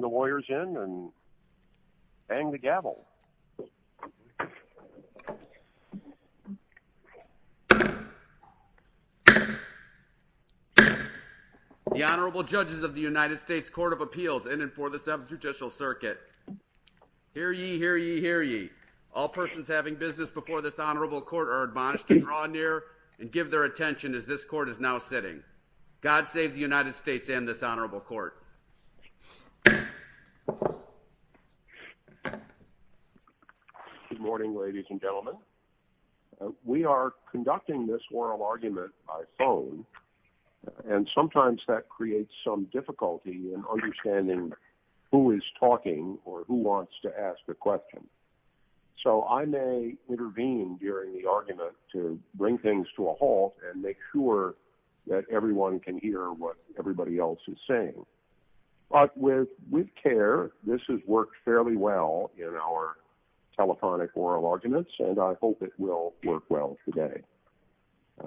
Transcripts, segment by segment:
The Honorable Judges of the United States Court of Appeals in and for the 7th Judicial Circuit. Hear ye, hear ye, hear ye. All persons having business before this honorable court are admonished to draw near and give their attention as this court is now sitting. God save the United States and this honorable court. Good morning, ladies and gentlemen. We are conducting this oral argument by phone and sometimes that creates some difficulty in understanding who is talking or who wants to ask a question. So I may intervene during the argument to bring things to a halt and make sure that everyone can hear what everybody else is saying. But with care, this has worked fairly well in our telephonic oral arguments and I hope it will work well today.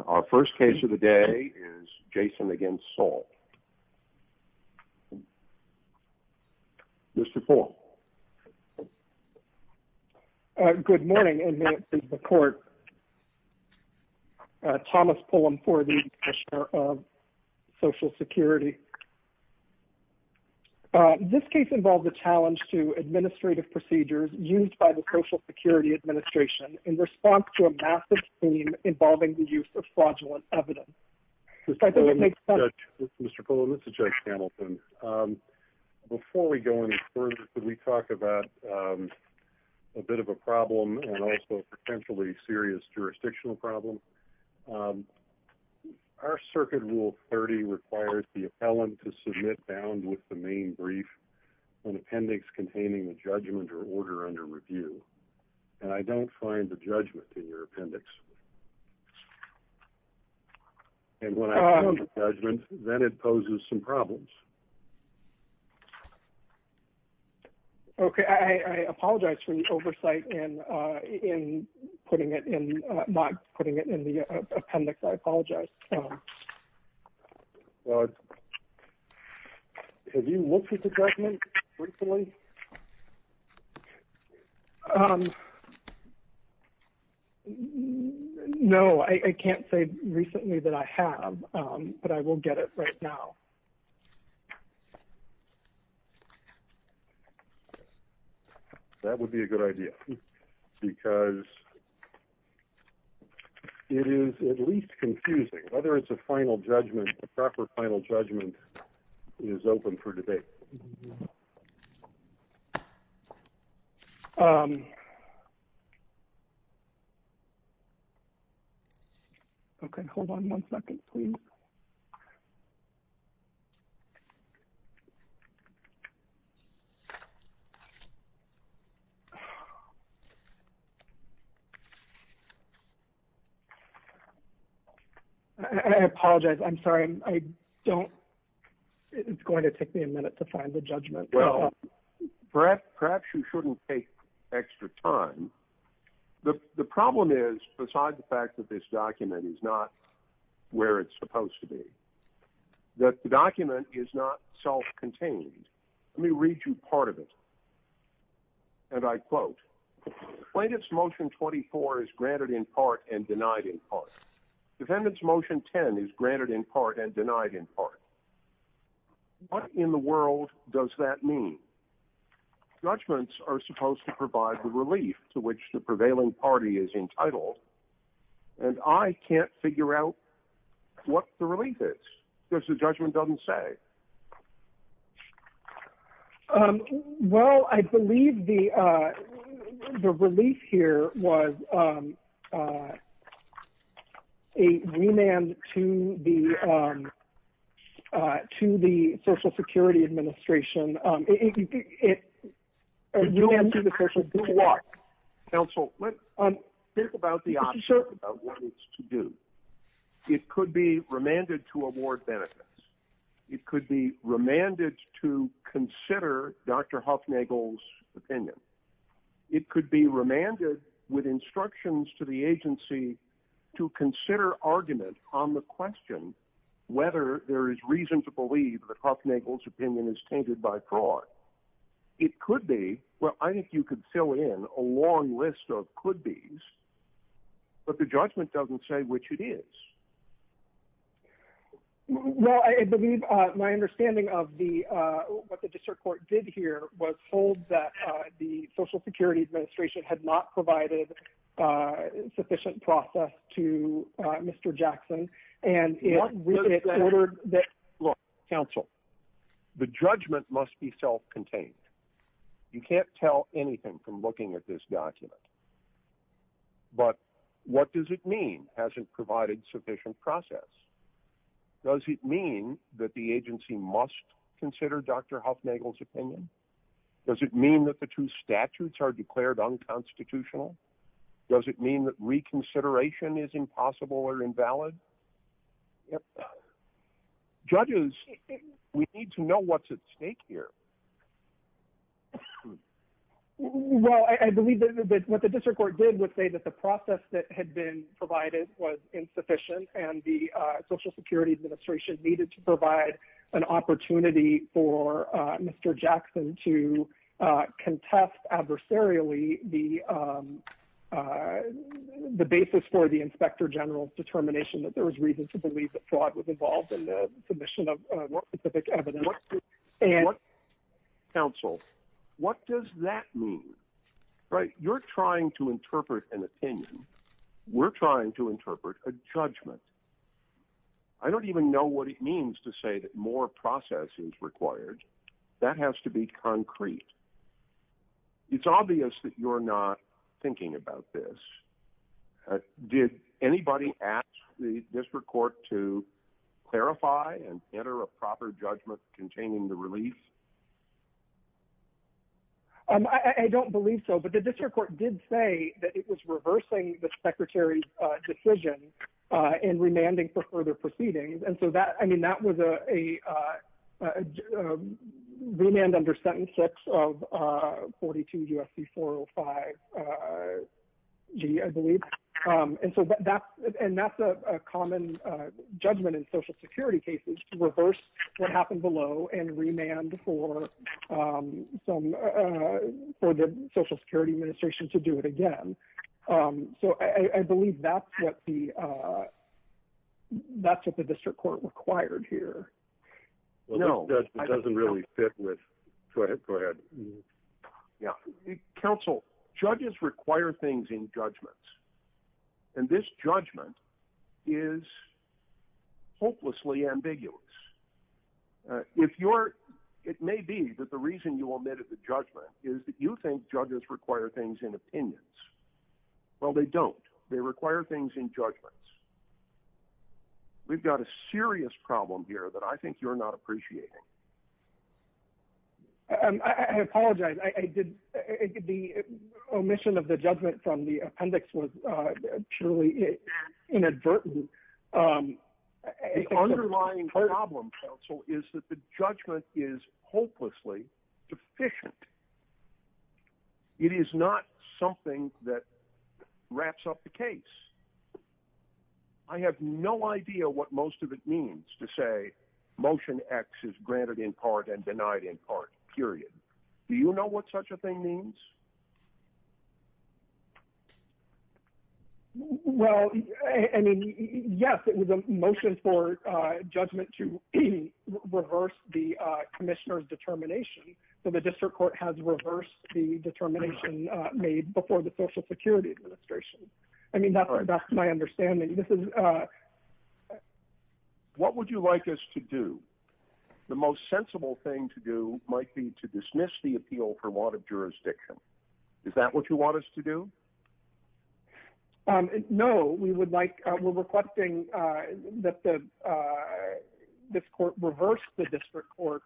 Our first case of the day is Jaxson v. Saul. Mr. Paul. Good morning and may it please the court. Thomas Pullum for the Commissioner of Social Security. This case involves a challenge to administrative procedures used by the Social Security Administration in response to a massive scheme involving the use of fraudulent evidence. Mr. Pullum, this is Judge Hamilton. Before we go any further, could we talk about a bit of a problem and also a potentially serious jurisdictional problem? Our circuit rule 30 requires the appellant to submit bound with the main brief an appendix containing the judgment or order under review and I don't find the judgment in your appendix. And when I have the judgment, then it poses some problems. Okay, I apologize for the oversight in putting it in, not putting it in the appendix, I apologize. Well, have you looked at the judgment recently? Um, no, I can't say recently that I have, but I will get it right now. That would be a good idea, because it is at least confusing, whether it's a final judgment, or a preferred final judgment is open for debate. Okay, hold on one second, please. I apologize, I'm sorry, I don't, it's going to take me a minute to find the judgment. Well, perhaps you shouldn't take extra time. The problem is, besides the fact that this document is not where it's supposed to be, that the document is not self-contained. Let me read you part of it. And I quote, plaintiff's motion 24 is granted in part and denied in part. Defendant's motion 10 is granted in part and denied in part. What in the world does that mean? Judgments are supposed to provide the relief to which the prevailing party is entitled. And I can't figure out what the relief is, because the judgment doesn't say. Well, I believe the relief here was a remand to the Social Security Administration. You answer the question. Counsel, let's think about the option about what it's to do. It could be remanded to award benefits. It could be remanded to consider Dr. Hufnagel's opinion. It could be remanded with instructions to the agency to consider argument on the question whether there is reason to believe that Hufnagel's opinion is tainted by fraud. It could be. Well, I think you could fill in a long list of could-bes. But the judgment doesn't say which it is. Well, I believe my understanding of what the district court did here was hold that the Social Security Administration had not provided sufficient process to Mr. Jackson. Counsel, the judgment must be self-contained. You can't tell anything from looking at this document. But what does it mean, hasn't provided sufficient process? Does it mean that the agency must consider Dr. Hufnagel's opinion? Does it mean that the two statutes are declared unconstitutional? Does it mean that reconsideration is impossible or invalid? Judges, we need to know what's at stake here. Well, I believe that what the district court did was say that the process that had been provided was insufficient and the Social Security Administration needed to provide an opportunity for Mr. Jackson to contest adversarially the basis for the Inspector General's determination that there was reason to believe that fraud was involved in the submission of more specific evidence. Counsel, what does that mean? You're trying to interpret an opinion. We're trying to interpret a judgment. I don't even know what it means to say that more process is required. That has to be concrete. It's obvious that you're not thinking about this. Did anybody ask the district court to clarify and enter a proper judgment containing the release? I don't believe so, but the district court did say that it was reversing the Secretary's decision and remanding for further proceedings. That was a remand under Sentence 6 of 42 U.S.C. 405G, I believe. That's a common judgment in Social Security cases to reverse what happened below and remand for the Social Security Administration to do it again. I believe that's what the district court required here. That doesn't really fit with... Go ahead. Counsel, judges require things in judgments, and this judgment is hopelessly ambiguous. It may be that the reason you omitted the judgment is that you think judges require things in opinions. Well, they don't. They require things in judgments. We've got a serious problem here that I think you're not appreciating. I apologize. The omission of the judgment from the appendix was purely inadvertent. The underlying problem, counsel, is that the judgment is hopelessly deficient. It is not something that wraps up the case. I have no idea what most of it means to say Motion X is granted in part and denied in part, period. Do you know what such a thing means? Well, I mean, yes, it was a motion for judgment to reverse the commissioner's determination, so the district court has reversed the determination made before the Social Security Administration. I mean, that's my understanding. What would you like us to do? The most sensible thing to do might be to dismiss the appeal for lot of jurisdictions. Is that what you want us to do? No. We're requesting that this court reverse the district court.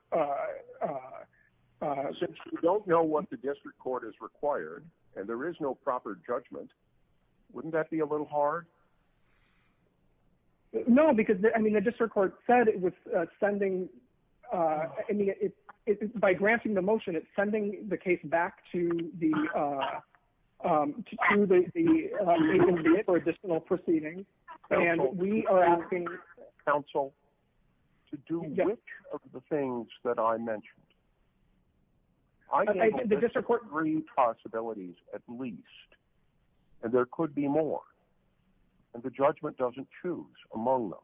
Since we don't know what the district court has required and there is no proper judgment, wouldn't that be a little hard? No, because I mean, the district court said it was sending, I mean, by granting the motion, it's sending the case back to the additional proceedings. And we are asking counsel to do which of the things that I mentioned. The district court agreed possibilities at least, and there could be more. And the judgment doesn't choose among them.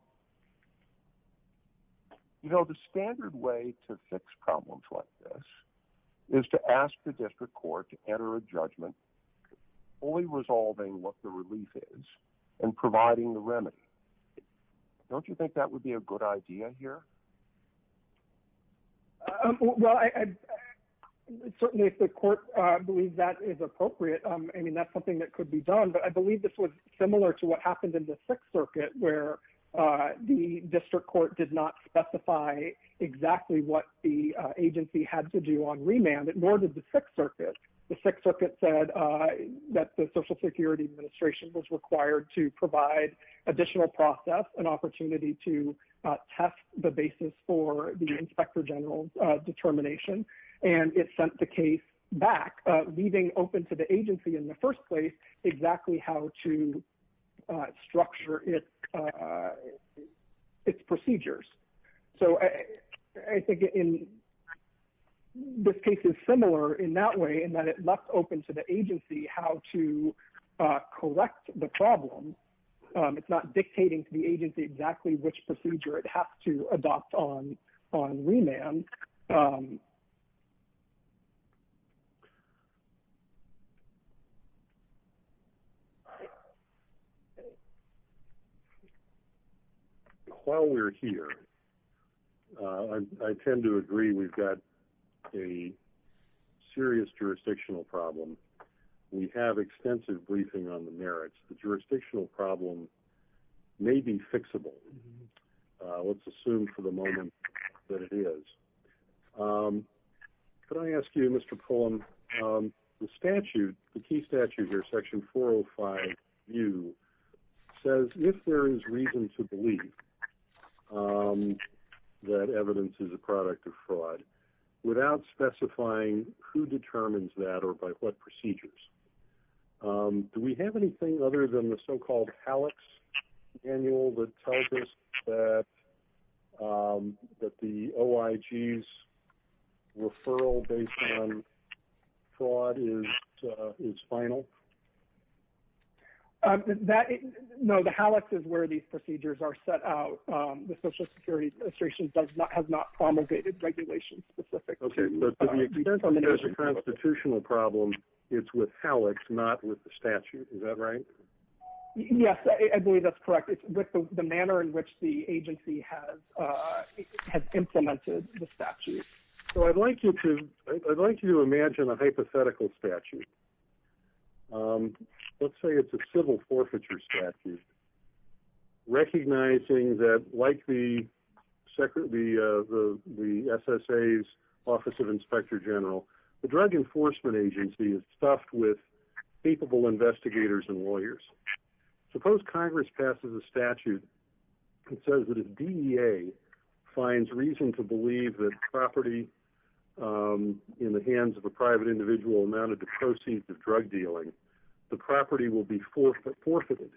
You know, the standard way to fix problems like this is to ask the district court to enter a judgment only resolving what the relief is and providing the remedy. Don't you think that would be a good idea here? Well, certainly if the court believes that is appropriate, I mean, that's something that could be done. But I believe this was similar to what happened in the Sixth Circuit where the district court did not specify exactly what the agency had to do on remand, nor did the Sixth Circuit. The Sixth Circuit said that the Social Security Administration was required to provide additional process, an opportunity to test the basis for the inspector general's determination. And it sent the case back, leaving open to the agency in the first place exactly how to structure its procedures. So I think this case is similar in that way in that it left open to the agency how to correct the problem. It's not dictating to the agency exactly which procedure it has to adopt on remand. While we're here, I tend to agree we've got a serious jurisdictional problem. We have extensive briefing on the merits. The jurisdictional problem may be fixable. Let's assume for the moment that it is. Could I ask you, Mr. Pullen, the statute, the key statute here, Section 405U, says if there is reason to believe that evidence is a product of fraud without specifying who determines that or by what procedures, do we have anything other than the so-called HALEX annual that tells us that the OIG's referral based on fraud is final? No, the HALEX is where these procedures are set out. The Social Security Administration has not promulgated regulation-specific procedures. Okay, so to the extent there's a constitutional problem, it's with HALEX, not with the statute. Is that right? Yes, I believe that's correct. It's with the manner in which the agency has implemented the statute. So I'd like you to imagine a hypothetical statute. Let's say it's a civil forfeiture statute, recognizing that like the SSA's Office of Inspector General, the Drug Enforcement Agency is stuffed with capable investigators and lawyers. Suppose Congress passes a statute that says that if DEA finds reason to believe that property in the hands of a private individual amounted to proceeds of drug dealing, the property will be forfeited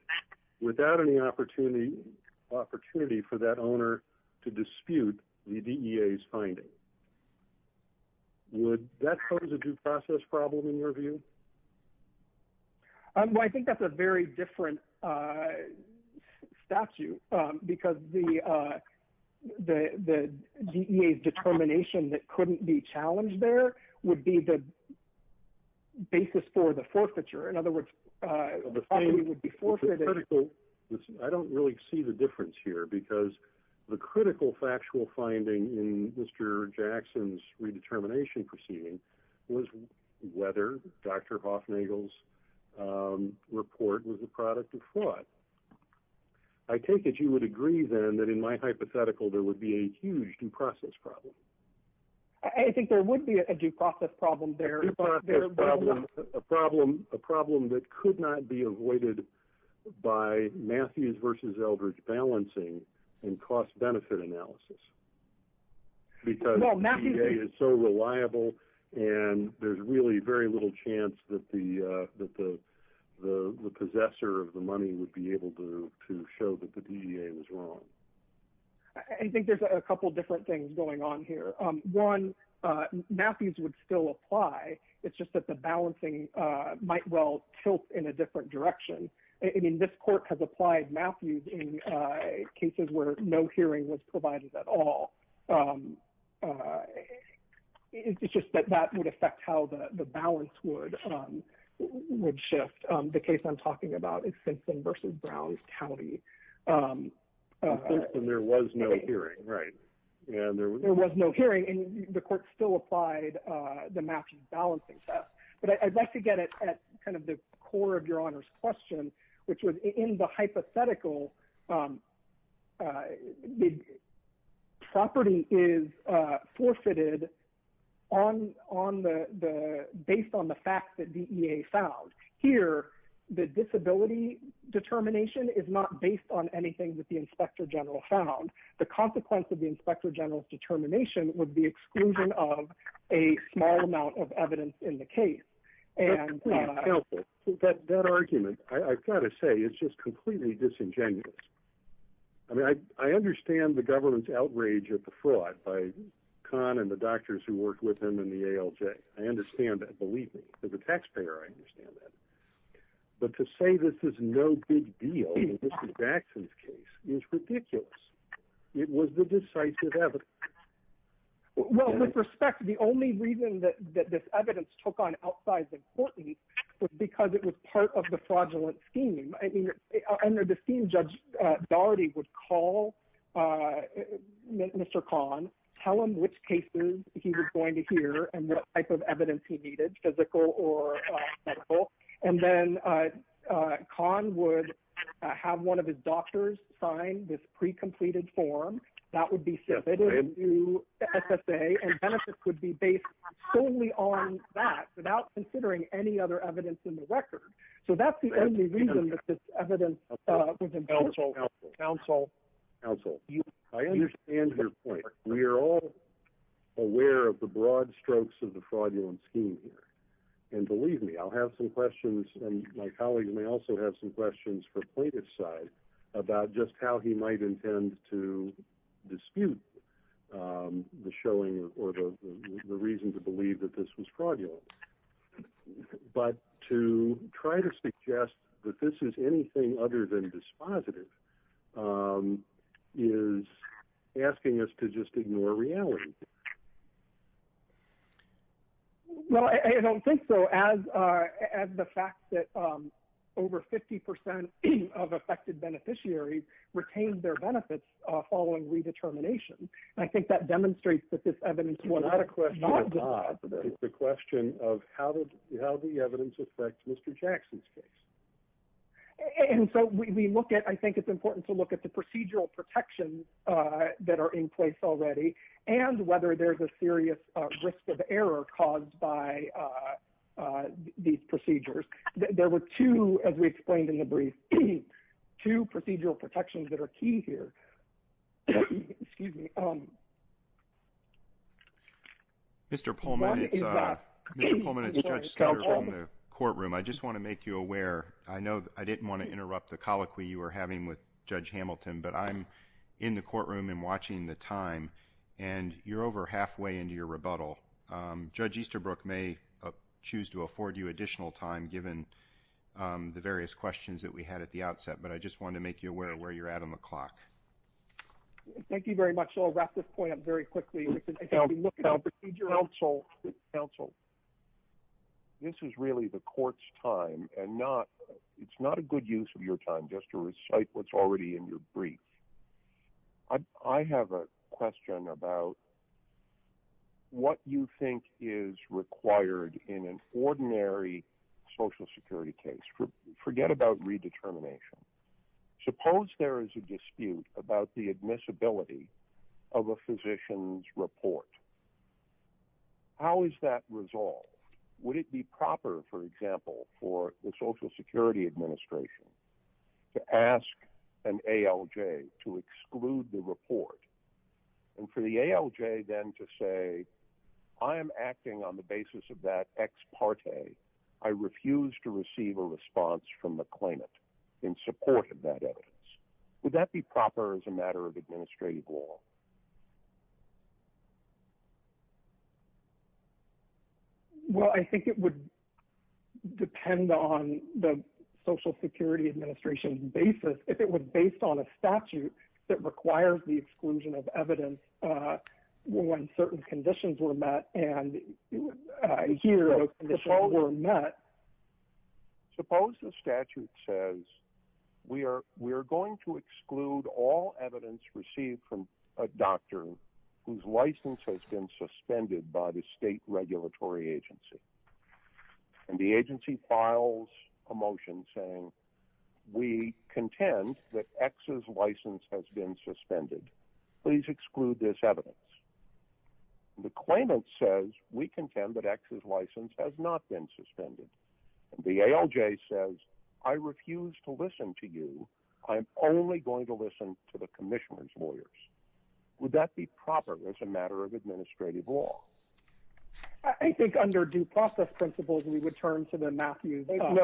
without any opportunity for that owner to dispute the DEA's finding. Would that pose a due process problem in your view? I think that's a very different statute because the DEA's determination that couldn't be challenged there would be the basis for the forfeiture. I don't really see the difference here because the critical factual finding in Mr. Jackson's redetermination proceeding was whether Dr. Hoffnagel's report was a product of fraud. I take it you would agree then that in my hypothetical there would be a huge due process problem. I think there would be a due process problem there. A problem that could not be avoided by Matthews versus Eldridge balancing and cost-benefit analysis because DEA is so reliable and there's really very little chance that the possessor of the money would be able to show that the DEA was wrong. I think there's a couple different things going on here. One, Matthews would still apply. It's just that the balancing might well tilt in a different direction. I mean, this court has applied Matthews in cases where no hearing was provided at all. It's just that that would affect how the balance would shift. The case I'm talking about is Simpson versus Browns County. There was no hearing, right? There was no hearing and the court still applied the Matthews balancing. But I'd like to get it at kind of the core of your honor's question, which was in the hypothetical. The property is forfeited based on the fact that DEA found. Here, the disability determination is not based on anything that the inspector general found. The consequence of the inspector general's determination would be exclusion of a small amount of evidence in the case. That argument, I've got to say, is just completely disingenuous. I mean, I understand the government's outrage at the fraud by Khan and the doctors who worked with him and the ALJ. I understand that, believe me. As a taxpayer, I understand that. But to say this is no big deal in Mr. Jackson's case is ridiculous. It was the decisive evidence. Well, with respect, the only reason that this evidence took on outside the court was because it was part of the fraudulent scheme. Under the scheme, Judge Daugherty would call Mr. Khan, tell him which cases he was going to hear and what type of evidence he needed, physical or medical. And then Khan would have one of his doctors sign this pre-completed form. That would be submitted to SSA. And benefits would be based solely on that without considering any other evidence in the record. So that's the only reason that this evidence was involved. Counsel, counsel, counsel, I understand your point. We are all aware of the broad strokes of the fraudulent scheme here. And believe me, I'll have some questions and my colleagues may also have some questions for plaintiff's side about just how he might intend to dispute the showing or the reason to believe that this was fraudulent. But to try to suggest that this is anything other than dispositive is asking us to just ignore reality. Well, I don't think so, as the fact that over 50% of affected beneficiaries retained their benefits following redetermination. I think that demonstrates that this evidence was not dispositive. It's a question of how the evidence affects Mr. Jackson's case. And so we look at, I think it's important to look at the procedural protections that are in place already and whether there's a serious risk of error caused by these procedures. There were two, as we explained in the brief, two procedural protections that are key here. Excuse me. Mr. Pullman, it's Judge Skelter from the courtroom. I just want to make you aware. I know I didn't want to interrupt the colloquy you were having with Judge Hamilton, but I'm in the courtroom and watching the time, and you're over halfway into your rebuttal. Judge Easterbrook may choose to afford you additional time, given the various questions that we had at the outset. But I just wanted to make you aware of where you're at on the clock. Thank you very much. So I'll wrap this point up very quickly. Counsel. This is really the court's time and not it's not a good use of your time just to recite what's already in your brief. I have a question about what you think is required in an ordinary Social Security case. Forget about redetermination. Suppose there is a dispute about the admissibility of a physician's report. How is that resolved? Would it be proper, for example, for the Social Security Administration to ask an ALJ to exclude the report? And for the ALJ then to say, I am acting on the basis of that ex parte. I refuse to receive a response from the claimant in support of that evidence. Would that be proper as a matter of administrative law? Well, I think it would depend on the Social Security Administration's basis. If it was based on a statute that requires the exclusion of evidence when certain conditions were met and here the conditions were met. Suppose the statute says we are going to exclude all evidence received from a doctor whose license has been suspended by the state regulatory agency. And the agency files a motion saying we contend that X's license has been suspended. Please exclude this evidence. The claimant says we contend that X's license has not been suspended. The ALJ says I refuse to listen to you. I'm only going to listen to the Commissioner's lawyers. Would that be proper as a matter of administrative law? I think under due process principles, we would turn to the Matthews Act.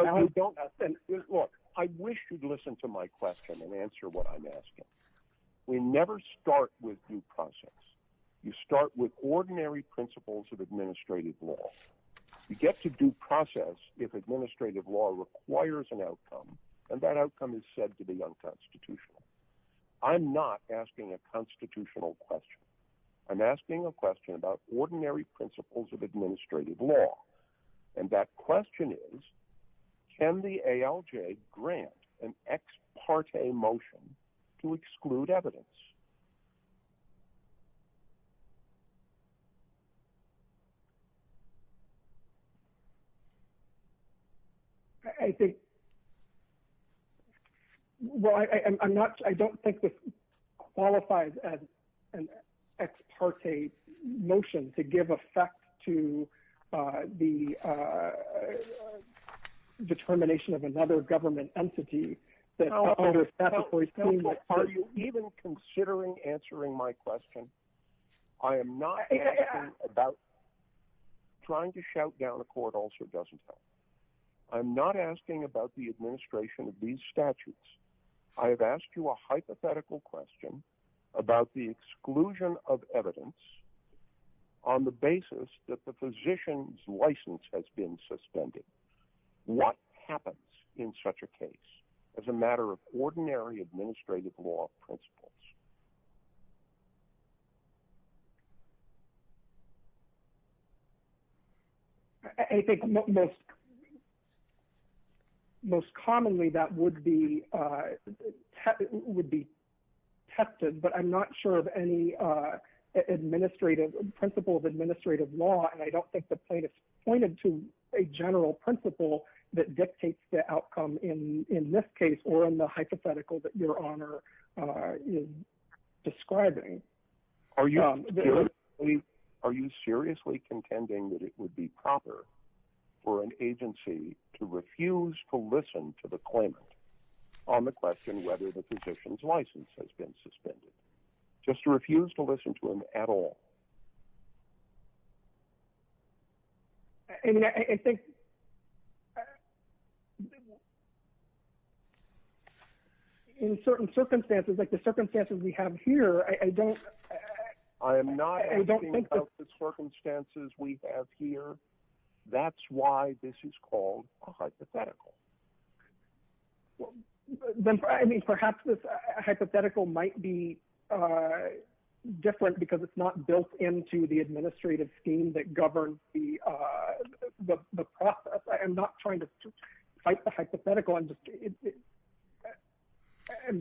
Look, I wish you'd listen to my question and answer what I'm asking. We never start with due process. You start with ordinary principles of administrative law. You get to due process if administrative law requires an outcome and that outcome is said to be unconstitutional. I'm not asking a constitutional question. I'm asking a question about ordinary principles of administrative law. And that question is, can the ALJ grant an ex parte motion to exclude evidence? I think, well, I'm not, I don't think this qualifies as an ex parte motion to give effect to the determination of another government entity. Are you even considering answering my question? I am not asking about trying to shout down a court also doesn't help. I'm not asking about the administration of these statutes. I have asked you a hypothetical question about the exclusion of evidence on the basis that the physician's license has been suspended. What happens in such a case as a matter of ordinary administrative law principles? I think most commonly that would be tested, but I'm not sure of any administrative principle of administrative law. And I don't think the plaintiff's pointed to a general principle that dictates the outcome in this case or in the hypothetical that your honor is describing. Are you seriously contending that it would be proper for an agency to refuse to listen to the claimant on the question whether the physician's license has been suspended? Just to refuse to listen to him at all? I mean, I think in certain circumstances, like the circumstances we have here, I don't. I am not asking about the circumstances we have here. That's why this is called a hypothetical. I mean, perhaps this hypothetical might be different because it's not built into the administrative scheme that governs the process. I'm not trying to fight the hypothetical. I'm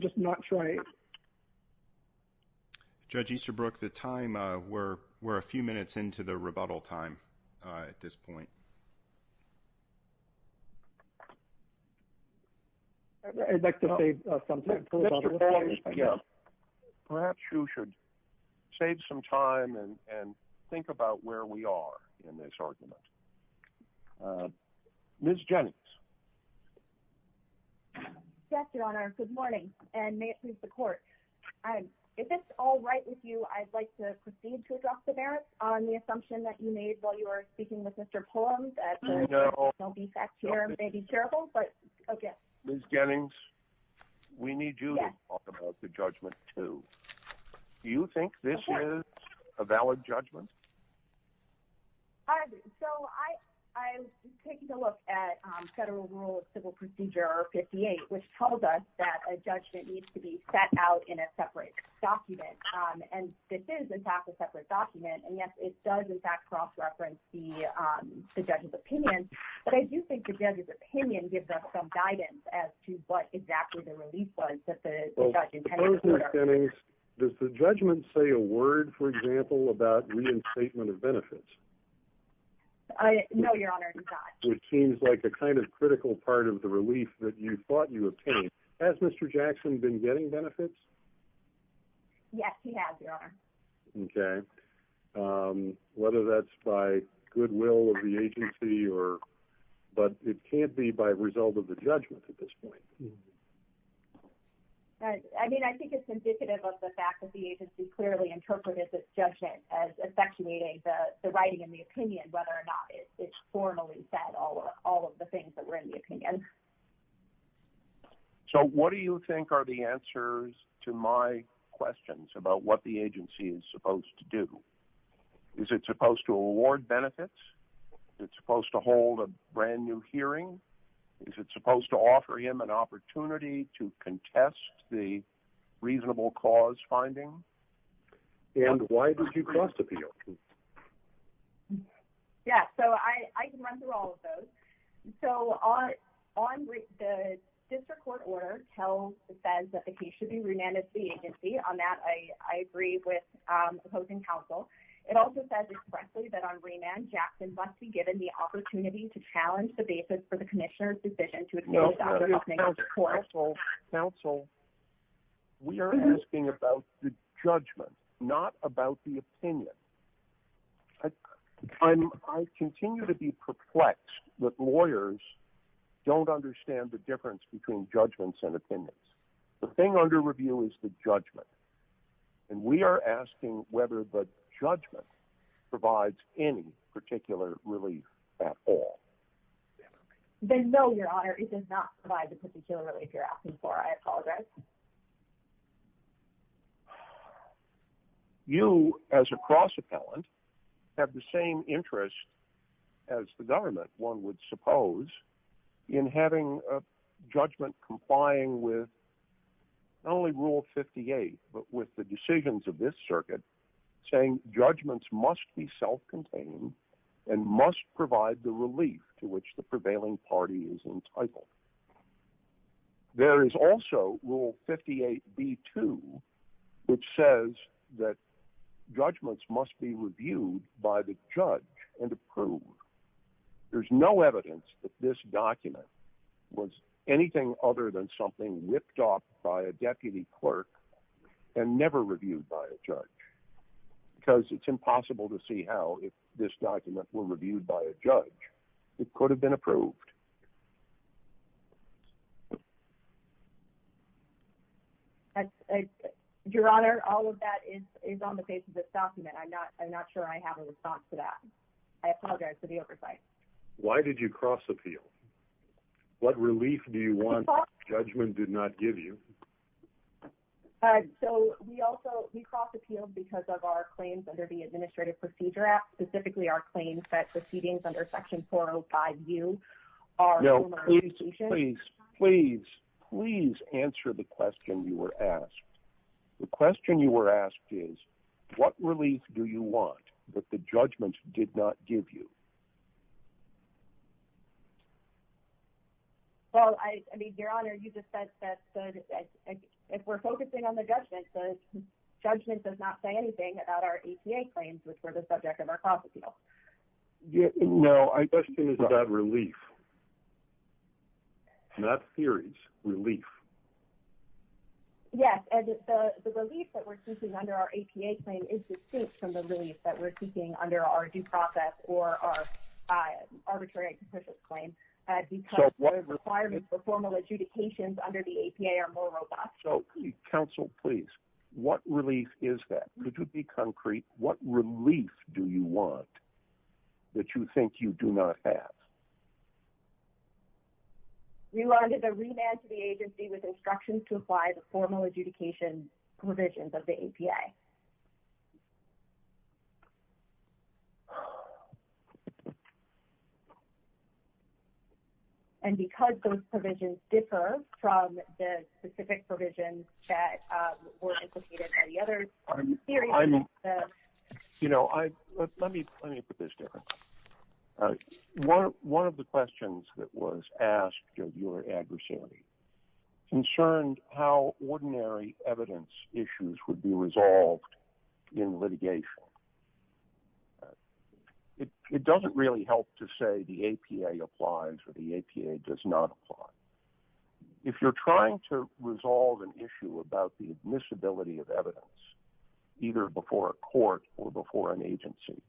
just not trying. Judge Easterbrook, the time we're a few minutes into the rebuttal time at this point. I'd like to say something. Perhaps you should save some time and think about where we are in this argument. Ms. Jennings. Yes, your honor. And may it please the court. If it's all right with you, I'd like to proceed to address the merits on the assumption that you made while you were speaking with Mr. Poems. Don't be fact here. May be terrible, but okay. Ms. Jennings, we need you to talk about the judgment too. Do you think this is a valid judgment? I agree. So I was taking a look at federal rule of civil procedure 58, which tells us that a judgment needs to be set out in a separate document. And this is, in fact, a separate document. And, yes, it does, in fact, cross-reference the judge's opinion. But I do think the judge's opinion gives us some guidance as to what exactly the relief was that the judge intended. Ms. Jennings, does the judgment say a word, for example, about reinstatement of benefits? No, your honor, it does not. It seems like a kind of critical part of the relief that you thought you obtained. Has Mr. Jackson been getting benefits? Yes, he has, your honor. Okay. Whether that's by goodwill of the agency, but it can't be by result of the judgment at this point. I mean, I think it's indicative of the fact that the agency clearly interpreted this judgment as effectuating the writing in the opinion, whether or not it formally said all of the things that were in the opinion. So what do you think are the answers to my questions about what the agency is supposed to do? Is it supposed to award benefits? Is it supposed to hold a brand-new hearing? Is it supposed to offer him an opportunity to contest the reasonable cause finding? And why did you cross-appeal? Yeah, so I can run through all of those. So the district court order says that the case should be remanded to the agency. On that, I agree with opposing counsel. It also says expressly that on remand, Jackson must be given the opportunity to challenge the basis for the commissioner's decision to advance the opening of the court. Counsel, we are asking about the judgment, not about the opinion. I continue to be perplexed that lawyers don't understand the difference between judgments and opinions. The thing under review is the judgment. And we are asking whether the judgment provides any particular relief at all. Then no, Your Honor, it does not provide the particular relief you're asking for. I apologize. You, as a cross-appellant, have the same interest as the government, one would suppose, in having a judgment complying with not only Rule 58, but with the decisions of this circuit saying judgments must be self-contained and must provide the relief to which the prevailing party is entitled. There is also Rule 58b-2, which says that judgments must be reviewed by the judge and approved. There's no evidence that this document was anything other than something whipped up by a deputy clerk and never reviewed by a judge because it's impossible to see how, if this document were reviewed by a judge, it could have been approved. Your Honor, all of that is on the face of this document. I'm not sure I have a response to that. I apologize for the oversight. Why did you cross-appeal? What relief do you want that the judgment did not give you? So, we also cross-appealed because of our claims under the Administrative Procedure Act, specifically our claims that proceedings under Section 405U are— No, please, please, please, please answer the question you were asked. The question you were asked is, what relief do you want that the judgment did not give you? Well, I mean, Your Honor, you just said that if we're focusing on the judgment, the judgment does not say anything about our APA claims, which were the subject of our cross-appeal. No, my question is about relief, not theories, relief. Yes, and the relief that we're seeking under our APA claim is distinct from the relief that we're seeking under our due process or our arbitrary executive claim, because the requirements for formal adjudications under the APA are more robust. So, counsel, please, what relief is that? To be concrete, what relief do you want that you think you do not have? We wanted a remand to the agency with instructions to apply the formal adjudication provisions of the APA. And because those provisions differ from the specific provisions that were indicated by the other— You know, let me put this different. One of the questions that was asked of your adversary concerned how ordinary evidence issues would be resolved in litigation. It doesn't really help to say the APA applies or the APA does not apply. If you're trying to resolve an issue about the admissibility of evidence, either before a court or before an agency,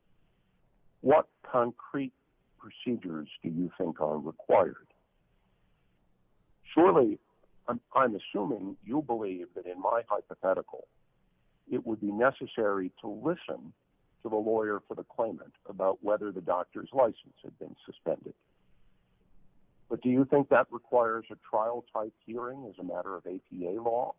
what concrete procedures do you think are required? Surely, I'm assuming you believe that in my hypothetical, it would be necessary to listen to the lawyer for the claimant about whether the doctor's license had been suspended. But do you think that requires a trial-type hearing as a matter of APA law?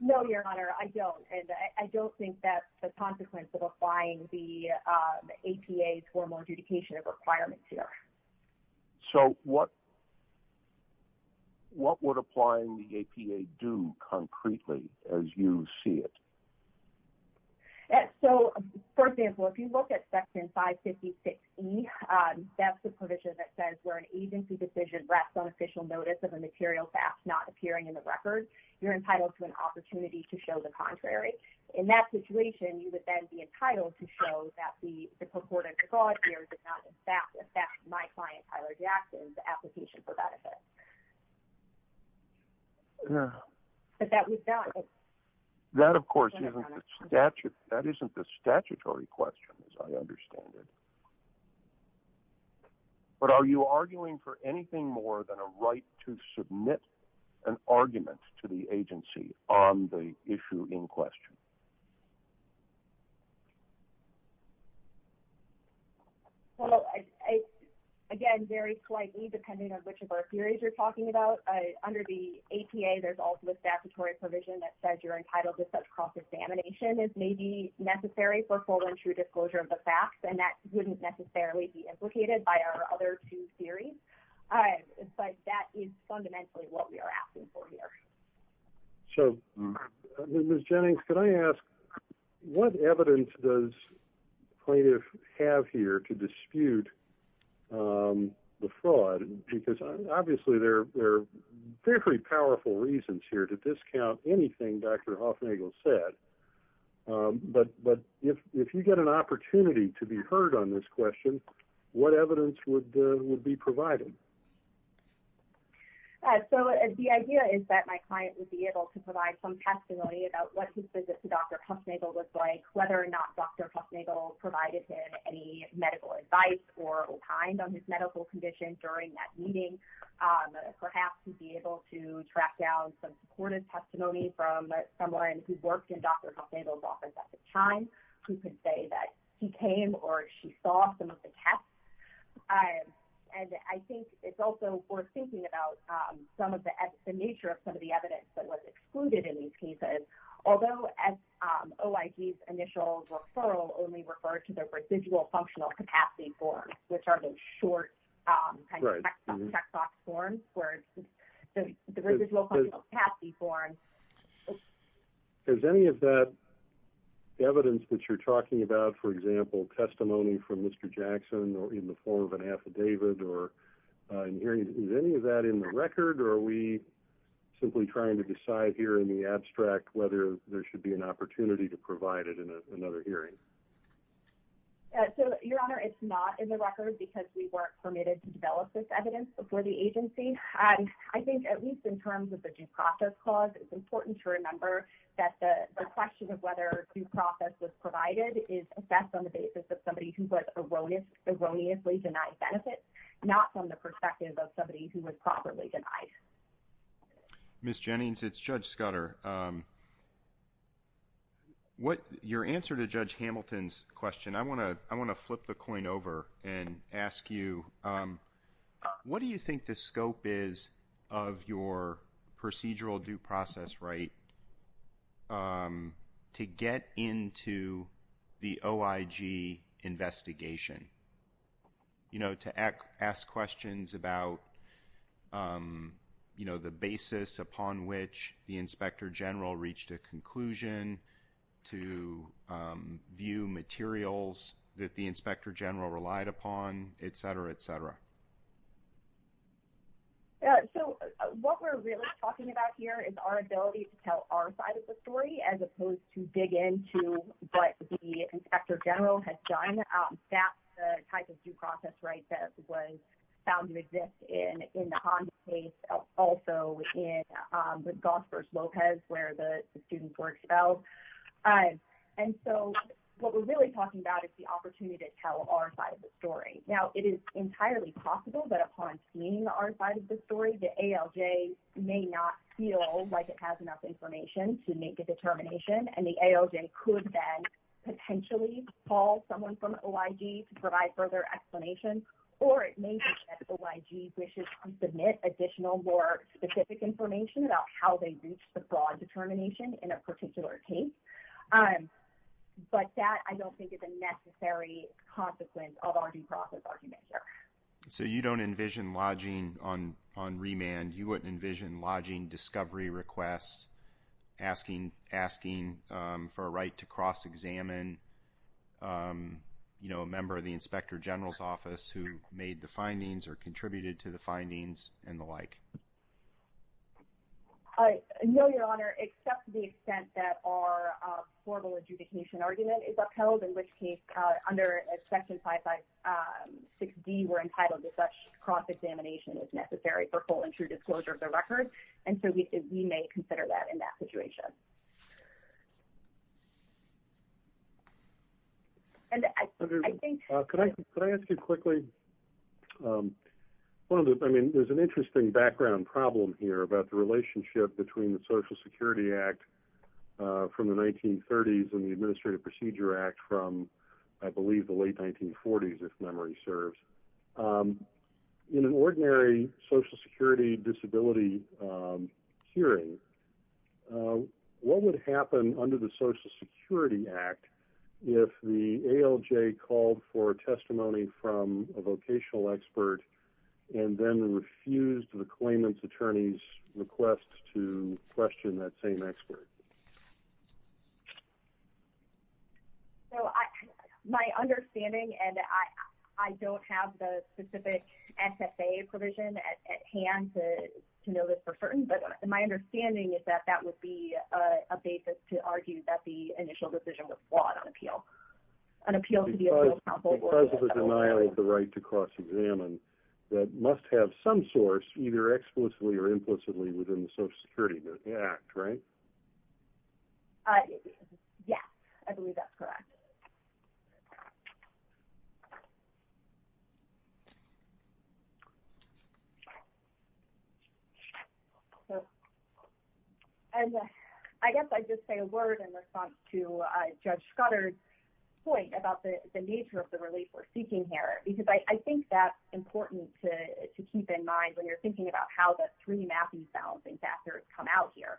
No, Your Honor, I don't. And I don't think that's a consequence of applying the APA's formal adjudication of requirements here. So, what would applying the APA do concretely as you see it? So, for example, if you look at Section 556E, that's the provision that says where an agency decision rests on official notice of a material fact not appearing in the record, you're entitled to an opportunity to show the contrary. In that situation, you would then be entitled to show that the purported fraud here did not in fact affect my client Tyler Jackson's application for benefit. But that would not— That, of course, isn't the statutory question, as I understand it. But are you arguing for anything more than a right to submit an argument to the agency on the issue in question? Well, again, very slightly, depending on which of our theories you're talking about. Under the APA, there's also a statutory provision that says you're entitled to such cross-examination as may be necessary for full and true disclosure of the facts, and that wouldn't necessarily be implicated by our other two theories. But that is fundamentally what we are asking for here. So, Ms. Jennings, can I ask, what evidence does plaintiff have here to dispute the fraud? Because obviously there are very powerful reasons here to discount anything Dr. Hoffnagel said. But if you get an opportunity to be heard on this question, what evidence would be provided? So the idea is that my client would be able to provide some testimony about what his visit to Dr. Hoffnagel was like, whether or not Dr. Hoffnagel provided him any medical advice or opined on his medical condition during that meeting. Perhaps he'd be able to track down some supported testimony from someone who worked in Dr. Hoffnagel's office at the time, who could say that he came or she saw some of the tests. And I think it's also worth thinking about the nature of some of the evidence that was excluded in these cases. Although OIG's initial referral only referred to the residual functional capacity forms, which are the short checkbox forms. Is any of that evidence that you're talking about, for example, testimony from Mr. Jackson or in the form of an affidavit, is any of that in the record or are we simply trying to decide here in the abstract whether there should be an opportunity to provide it in another hearing? Your Honor, it's not in the record because we weren't permitted to develop this evidence before the agency. I think at least in terms of the due process clause, it's important to remember that the question of whether due process was provided is assessed on the basis of somebody who was erroneously denied benefits, not from the perspective of somebody who was properly denied. Ms. Jennings, it's Judge Scudder. Your answer to Judge Hamilton's question, I want to flip the coin over and ask you, what do you think the scope is of your procedural due process right to get into the OIG investigation? To ask questions about the basis upon which the Inspector General reached a conclusion, to view materials that the Inspector General relied upon, et cetera, et cetera. What we're really talking about here is our ability to tell our side of the story as opposed to dig into what the Inspector General has done. That's the type of due process right that was found to exist in the Honda case, also with Gosper Lopez where the students were expelled. What we're really talking about is the opportunity to tell our side of the story. It is entirely possible that upon seeing our side of the story, the ALJ may not feel like it has enough information to make a determination. The ALJ could then potentially call someone from OIG to provide further explanation, or it may be that OIG wishes to submit additional more specific information about how they reached the broad determination in a particular case. That, I don't think, is a necessary consequence of our due process argument here. You don't envision lodging on remand? You wouldn't envision lodging discovery requests, asking for a right to cross-examine a member of the Inspector General's office who made the findings or contributed to the findings and the like? No, Your Honor, except to the extent that our formal adjudication argument is upheld, in which case, under Section 556D, we're entitled to such cross-examination as necessary for full and true disclosure of the record. We may consider that in that situation. Could I ask you quickly, there's an interesting background problem here about the relationship between the Social Security Act from the 1930s and the Administrative Procedure Act from, I believe, the late 1940s, if memory serves. In an ordinary Social Security disability hearing, what would happen under the Social Security Act if the ALJ called for a testimony from a vocational expert and then refused the claimant's attorney's request to question that same expert? My understanding, and I don't have the specific SFA provision at hand to know this for certain, but my understanding is that that would be a basis to argue that the initial decision was flawed on appeal. Because of the denial of the right to cross-examine, that must have some source, either explicitly or implicitly, within the Social Security Act, right? Yes, I believe that's correct. And I guess I'd just say a word in response to Judge Scudder's point about the nature of the relief we're seeking here. Because I think that's important to keep in mind when you're thinking about how the three Matthews balancing factors come out here.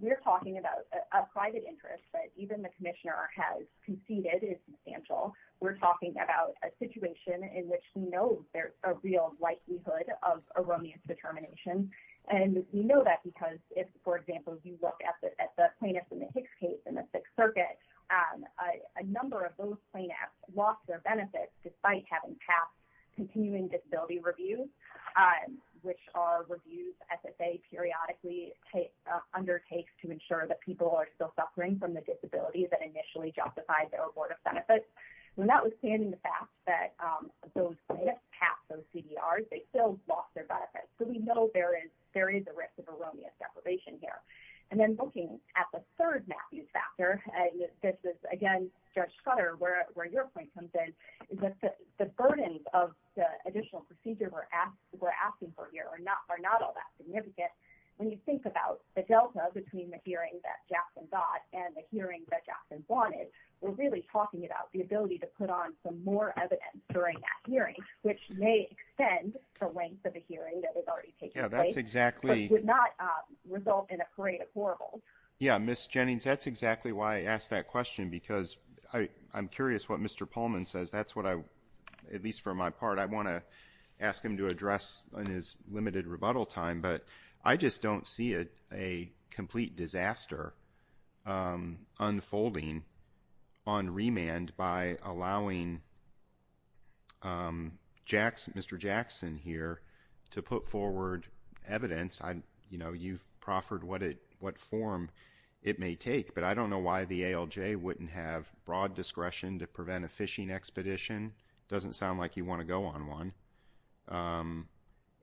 We're talking about a private interest that even the Commissioner has conceded is substantial. We're talking about a situation in which we know there's a real likelihood of a romance determination. And we know that because if, for example, you look at the plaintiffs in the Hicks case in the Sixth Circuit, a number of those plaintiffs lost their benefits despite having passed continuing disability reviews, which are reviews SSA periodically undertakes to ensure that people are still suffering from the disability that initially justified their award of benefits. And notwithstanding the fact that those plaintiffs passed those CDRs, they still lost their benefits. So we know there is a risk of erroneous deprivation here. And then looking at the third Matthews factor, and this is again, Judge Scudder, where your point comes in, is that the burden of the additional procedure we're asking for here are not all that significant. When you think about the delta between the hearing that Jackson got and the hearing that Jackson wanted, we're really talking about the ability to put on some more evidence during that hearing, which may extend the length of the hearing that is already taking place, but would not result in a parade of horribles. Yeah, Ms. Jennings, that's exactly why I asked that question, because I'm curious what Mr. Pullman says. That's what I, at least for my part, I want to ask him to address in his limited rebuttal time, but I just don't see a complete disaster unfolding on remand by allowing Mr. Jackson here to put forward evidence. You know, you've proffered what form it may take, but I don't know why the ALJ wouldn't have broad discretion to prevent a fishing expedition. It doesn't sound like you want to go on one.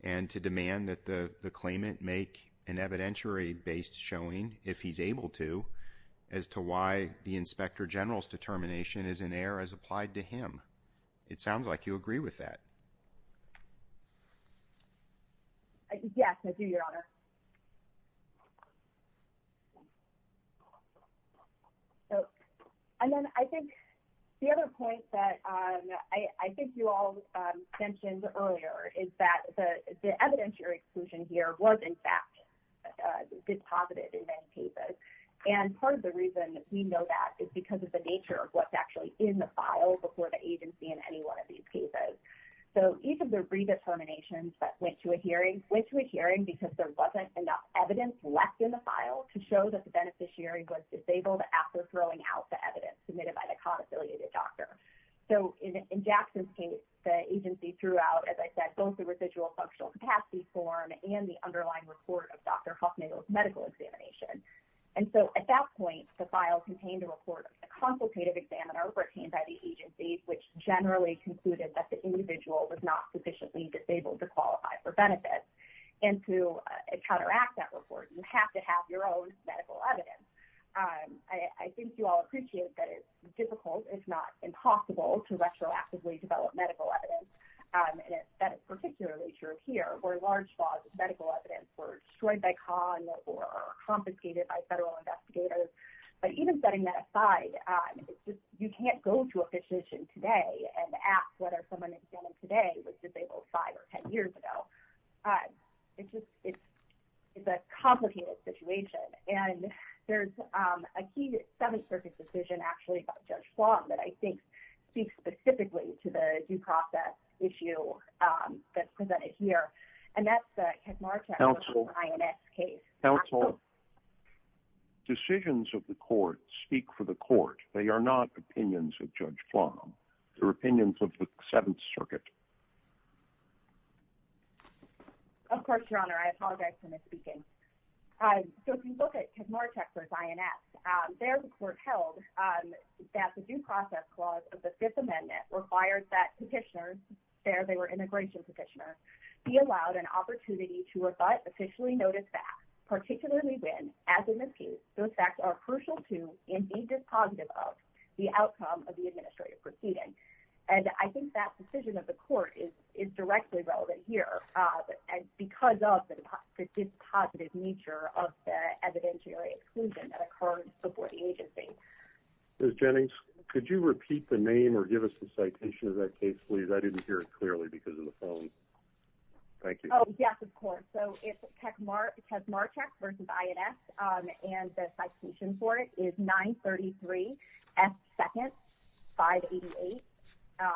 And to demand that the claimant make an evidentiary-based showing, if he's able to, as to why the Inspector General's determination is in error as applied to him. It sounds like you agree with that. Yes, I do, Your Honor. And then I think the other point that I think you all mentioned earlier is that the evidentiary exclusion here was, in fact, disposited in many cases. And part of the reason we know that is because of the nature of what's actually in the file before the agency in any one of these cases. So, each of the redeterminations that went to a hearing, went to a hearing because there wasn't enough evidence left in the file to show that the beneficiary was disabled after throwing out the evidence submitted by the con-affiliated doctor. So, in Jackson's case, the agency threw out, as I said, both the residual functional capacity form and the underlying report of Dr. Huffman's medical examination. And so, at that point, the file contained a report of the consultative examiner obtained by the agency, which generally concluded that the individual was not sufficiently disabled to qualify for benefits. And to counteract that report, you have to have your own medical evidence. I think you all appreciate that it's difficult, if not impossible, to retroactively develop medical evidence. And that is particularly true here, where large swaths of medical evidence were destroyed by con or confiscated by federal investigators. But even setting that aside, you can't go to a physician today and ask whether someone examined today was disabled 5 or 10 years ago. It's a complicated situation. And there's a key Seventh Circuit decision, actually, about Judge Flom, that I think speaks specifically to the due process issue that's presented here. And that's the Kekmarcha INS case. Counsel, decisions of the court speak for the court. They are not opinions of Judge Flom. They're opinions of the Seventh Circuit. Of course, Your Honor. I apologize for misspeaking. So if you look at Kekmarcha's INS, their report held that the due process clause of the Fifth Amendment required that petitioners, there they were immigration petitioners, be allowed an opportunity to rebut officially noted facts, particularly when, as a misuse, those facts are crucial to, and be dispositive of, the outcome of the administrative proceeding. And I think that decision of the court is directly relevant here. Because of the dispositive nature of the evidentiary exclusion that occurred before the agency. Ms. Jennings, could you repeat the name or give us the citation of that case, please? I didn't hear it clearly because of the phone. Thank you. Oh, yes, of course. So it's Kekmarcha versus INS. And the citation for it is 933 S. 2nd, 588. Thank you.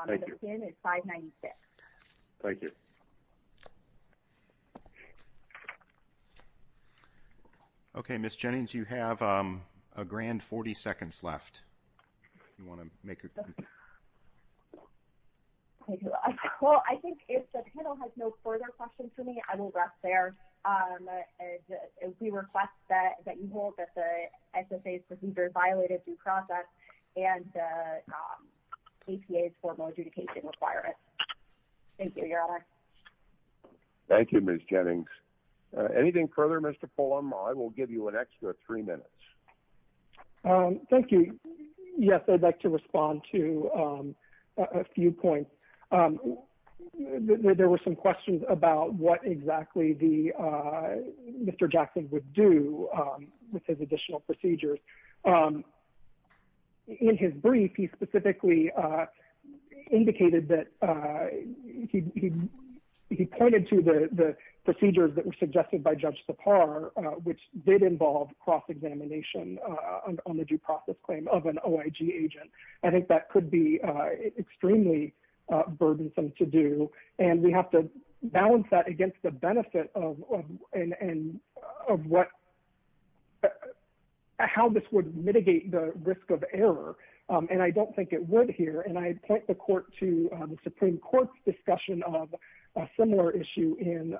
And the PIN is 596. Thank you. Okay, Ms. Jennings, you have a grand 40 seconds left. If you want to make your comment. Well, I think if the panel has no further questions for me, I will rest there. We request that you hold that the SSA's procedure violated due process and the APA's formal adjudication requirements. Thank you, Your Honor. Thank you, Ms. Jennings. Anything further, Mr. Fulham? I will give you an extra three minutes. Thank you. Yes, I'd like to respond to a few points. There were some questions about what exactly Mr. Jackson would do with his additional procedures. In his brief, he specifically indicated that he pointed to the procedures that were suggested by Judge Sipar, which did involve cross-examination on the due process claim of an OIG agent. I think that could be extremely burdensome to do, and we have to balance that against the benefit of how this would mitigate the risk of error. And I don't think it would here. And I point the court to the Supreme Court's discussion of a similar issue in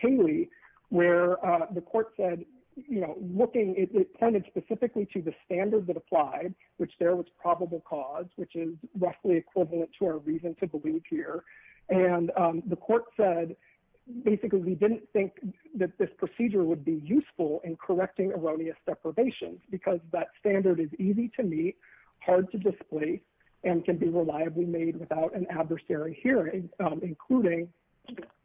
Cayley, where the court said, you know, looking, it pointed specifically to the standards that applied, which there was probable cause, which is roughly equivalent to our reason to believe here. And the court said, basically, we didn't think that this procedure would be useful in correcting erroneous deprivations, because that standard is easy to meet, hard to displace, and can be reliably made without an adversary hearing, including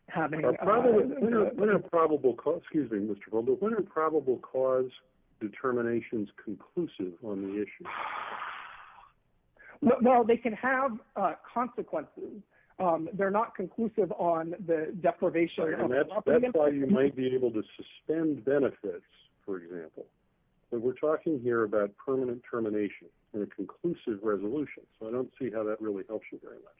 having— What are probable cause—excuse me, Mr. Fulham—what are probable cause determinations conclusive on the issue? Well, they can have consequences. They're not conclusive on the deprivation— And that's why you might be able to suspend benefits, for example. We're talking here about permanent termination in a conclusive resolution, so I don't see how that really helps you very much.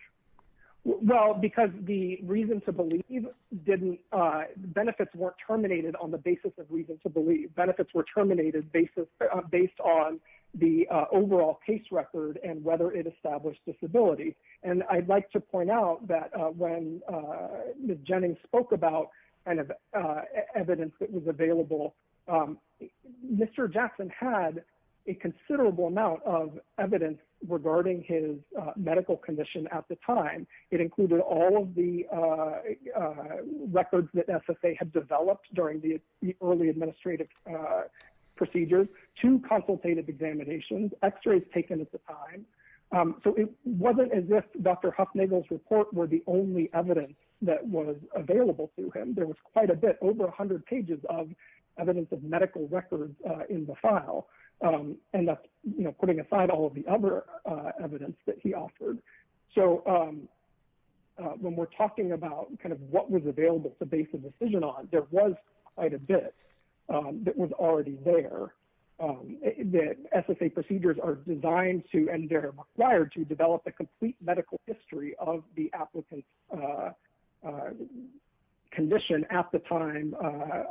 Well, because the reason to believe didn't—benefits weren't terminated on the basis of reason to believe. Benefits were terminated based on the overall case record and whether it established disability. And I'd like to point out that when Ms. Jennings spoke about evidence that was available, Mr. Jackson had a considerable amount of evidence regarding his medical condition at the time. It included all of the records that SSA had developed during the early administrative procedures, two consultative examinations, x-rays taken at the time. So it wasn't as if Dr. Hufnagel's report were the only evidence that was available to him. There was quite a bit, over 100 pages of evidence of medical records in the file. And that's, you know, putting aside all of the other evidence that he offered. So when we're talking about kind of what was available to base a decision on, there was quite a bit that was already there. The SSA procedures are designed to, and they're required to, develop a complete medical history of the applicant's condition at the time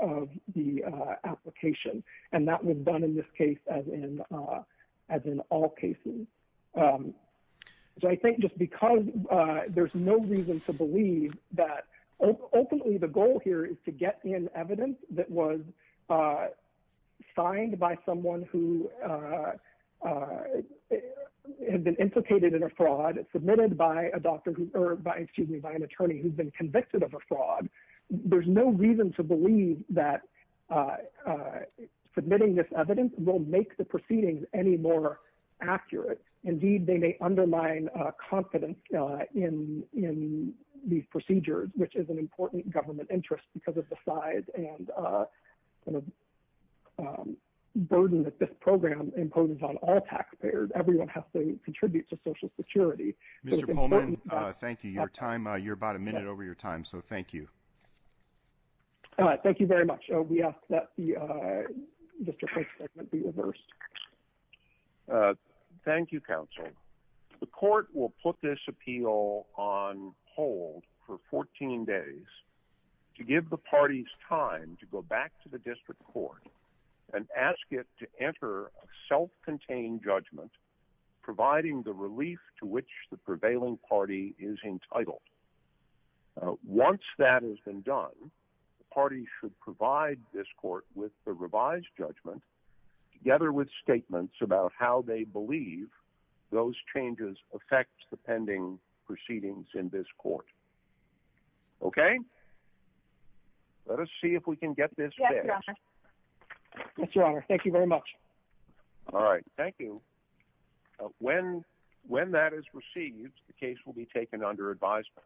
of the application. And that was done in this case as in all cases. So I think just because there's no reason to believe that, openly the goal here is to get in evidence that was signed by someone who had been implicated in a fraud, submitted by a doctor, or excuse me, by an attorney who's been convicted of a fraud. There's no reason to believe that submitting this evidence will make the proceedings any more accurate. Indeed, they may undermine confidence in these procedures, which is an important government interest because of the size and the burden that this program imposes on all taxpayers. Everyone has to contribute to Social Security. Mr. Pullman, thank you. Your time, you're about a minute over your time, so thank you. Thank you very much. We ask that the district court's judgment be reversed. Thank you, counsel. The court will put this appeal on hold for 14 days to give the parties time to go back to the district court and ask it to enter a self-contained judgment, providing the relief to which the prevailing party is entitled. Once that has been done, the party should provide this court with the revised judgment, together with statements about how they believe those changes affect the pending proceedings in this court. Okay? Let us see if we can get this fixed. Yes, Your Honor. Thank you very much. All right. Thank you. When that is received, the case will be taken under advisement.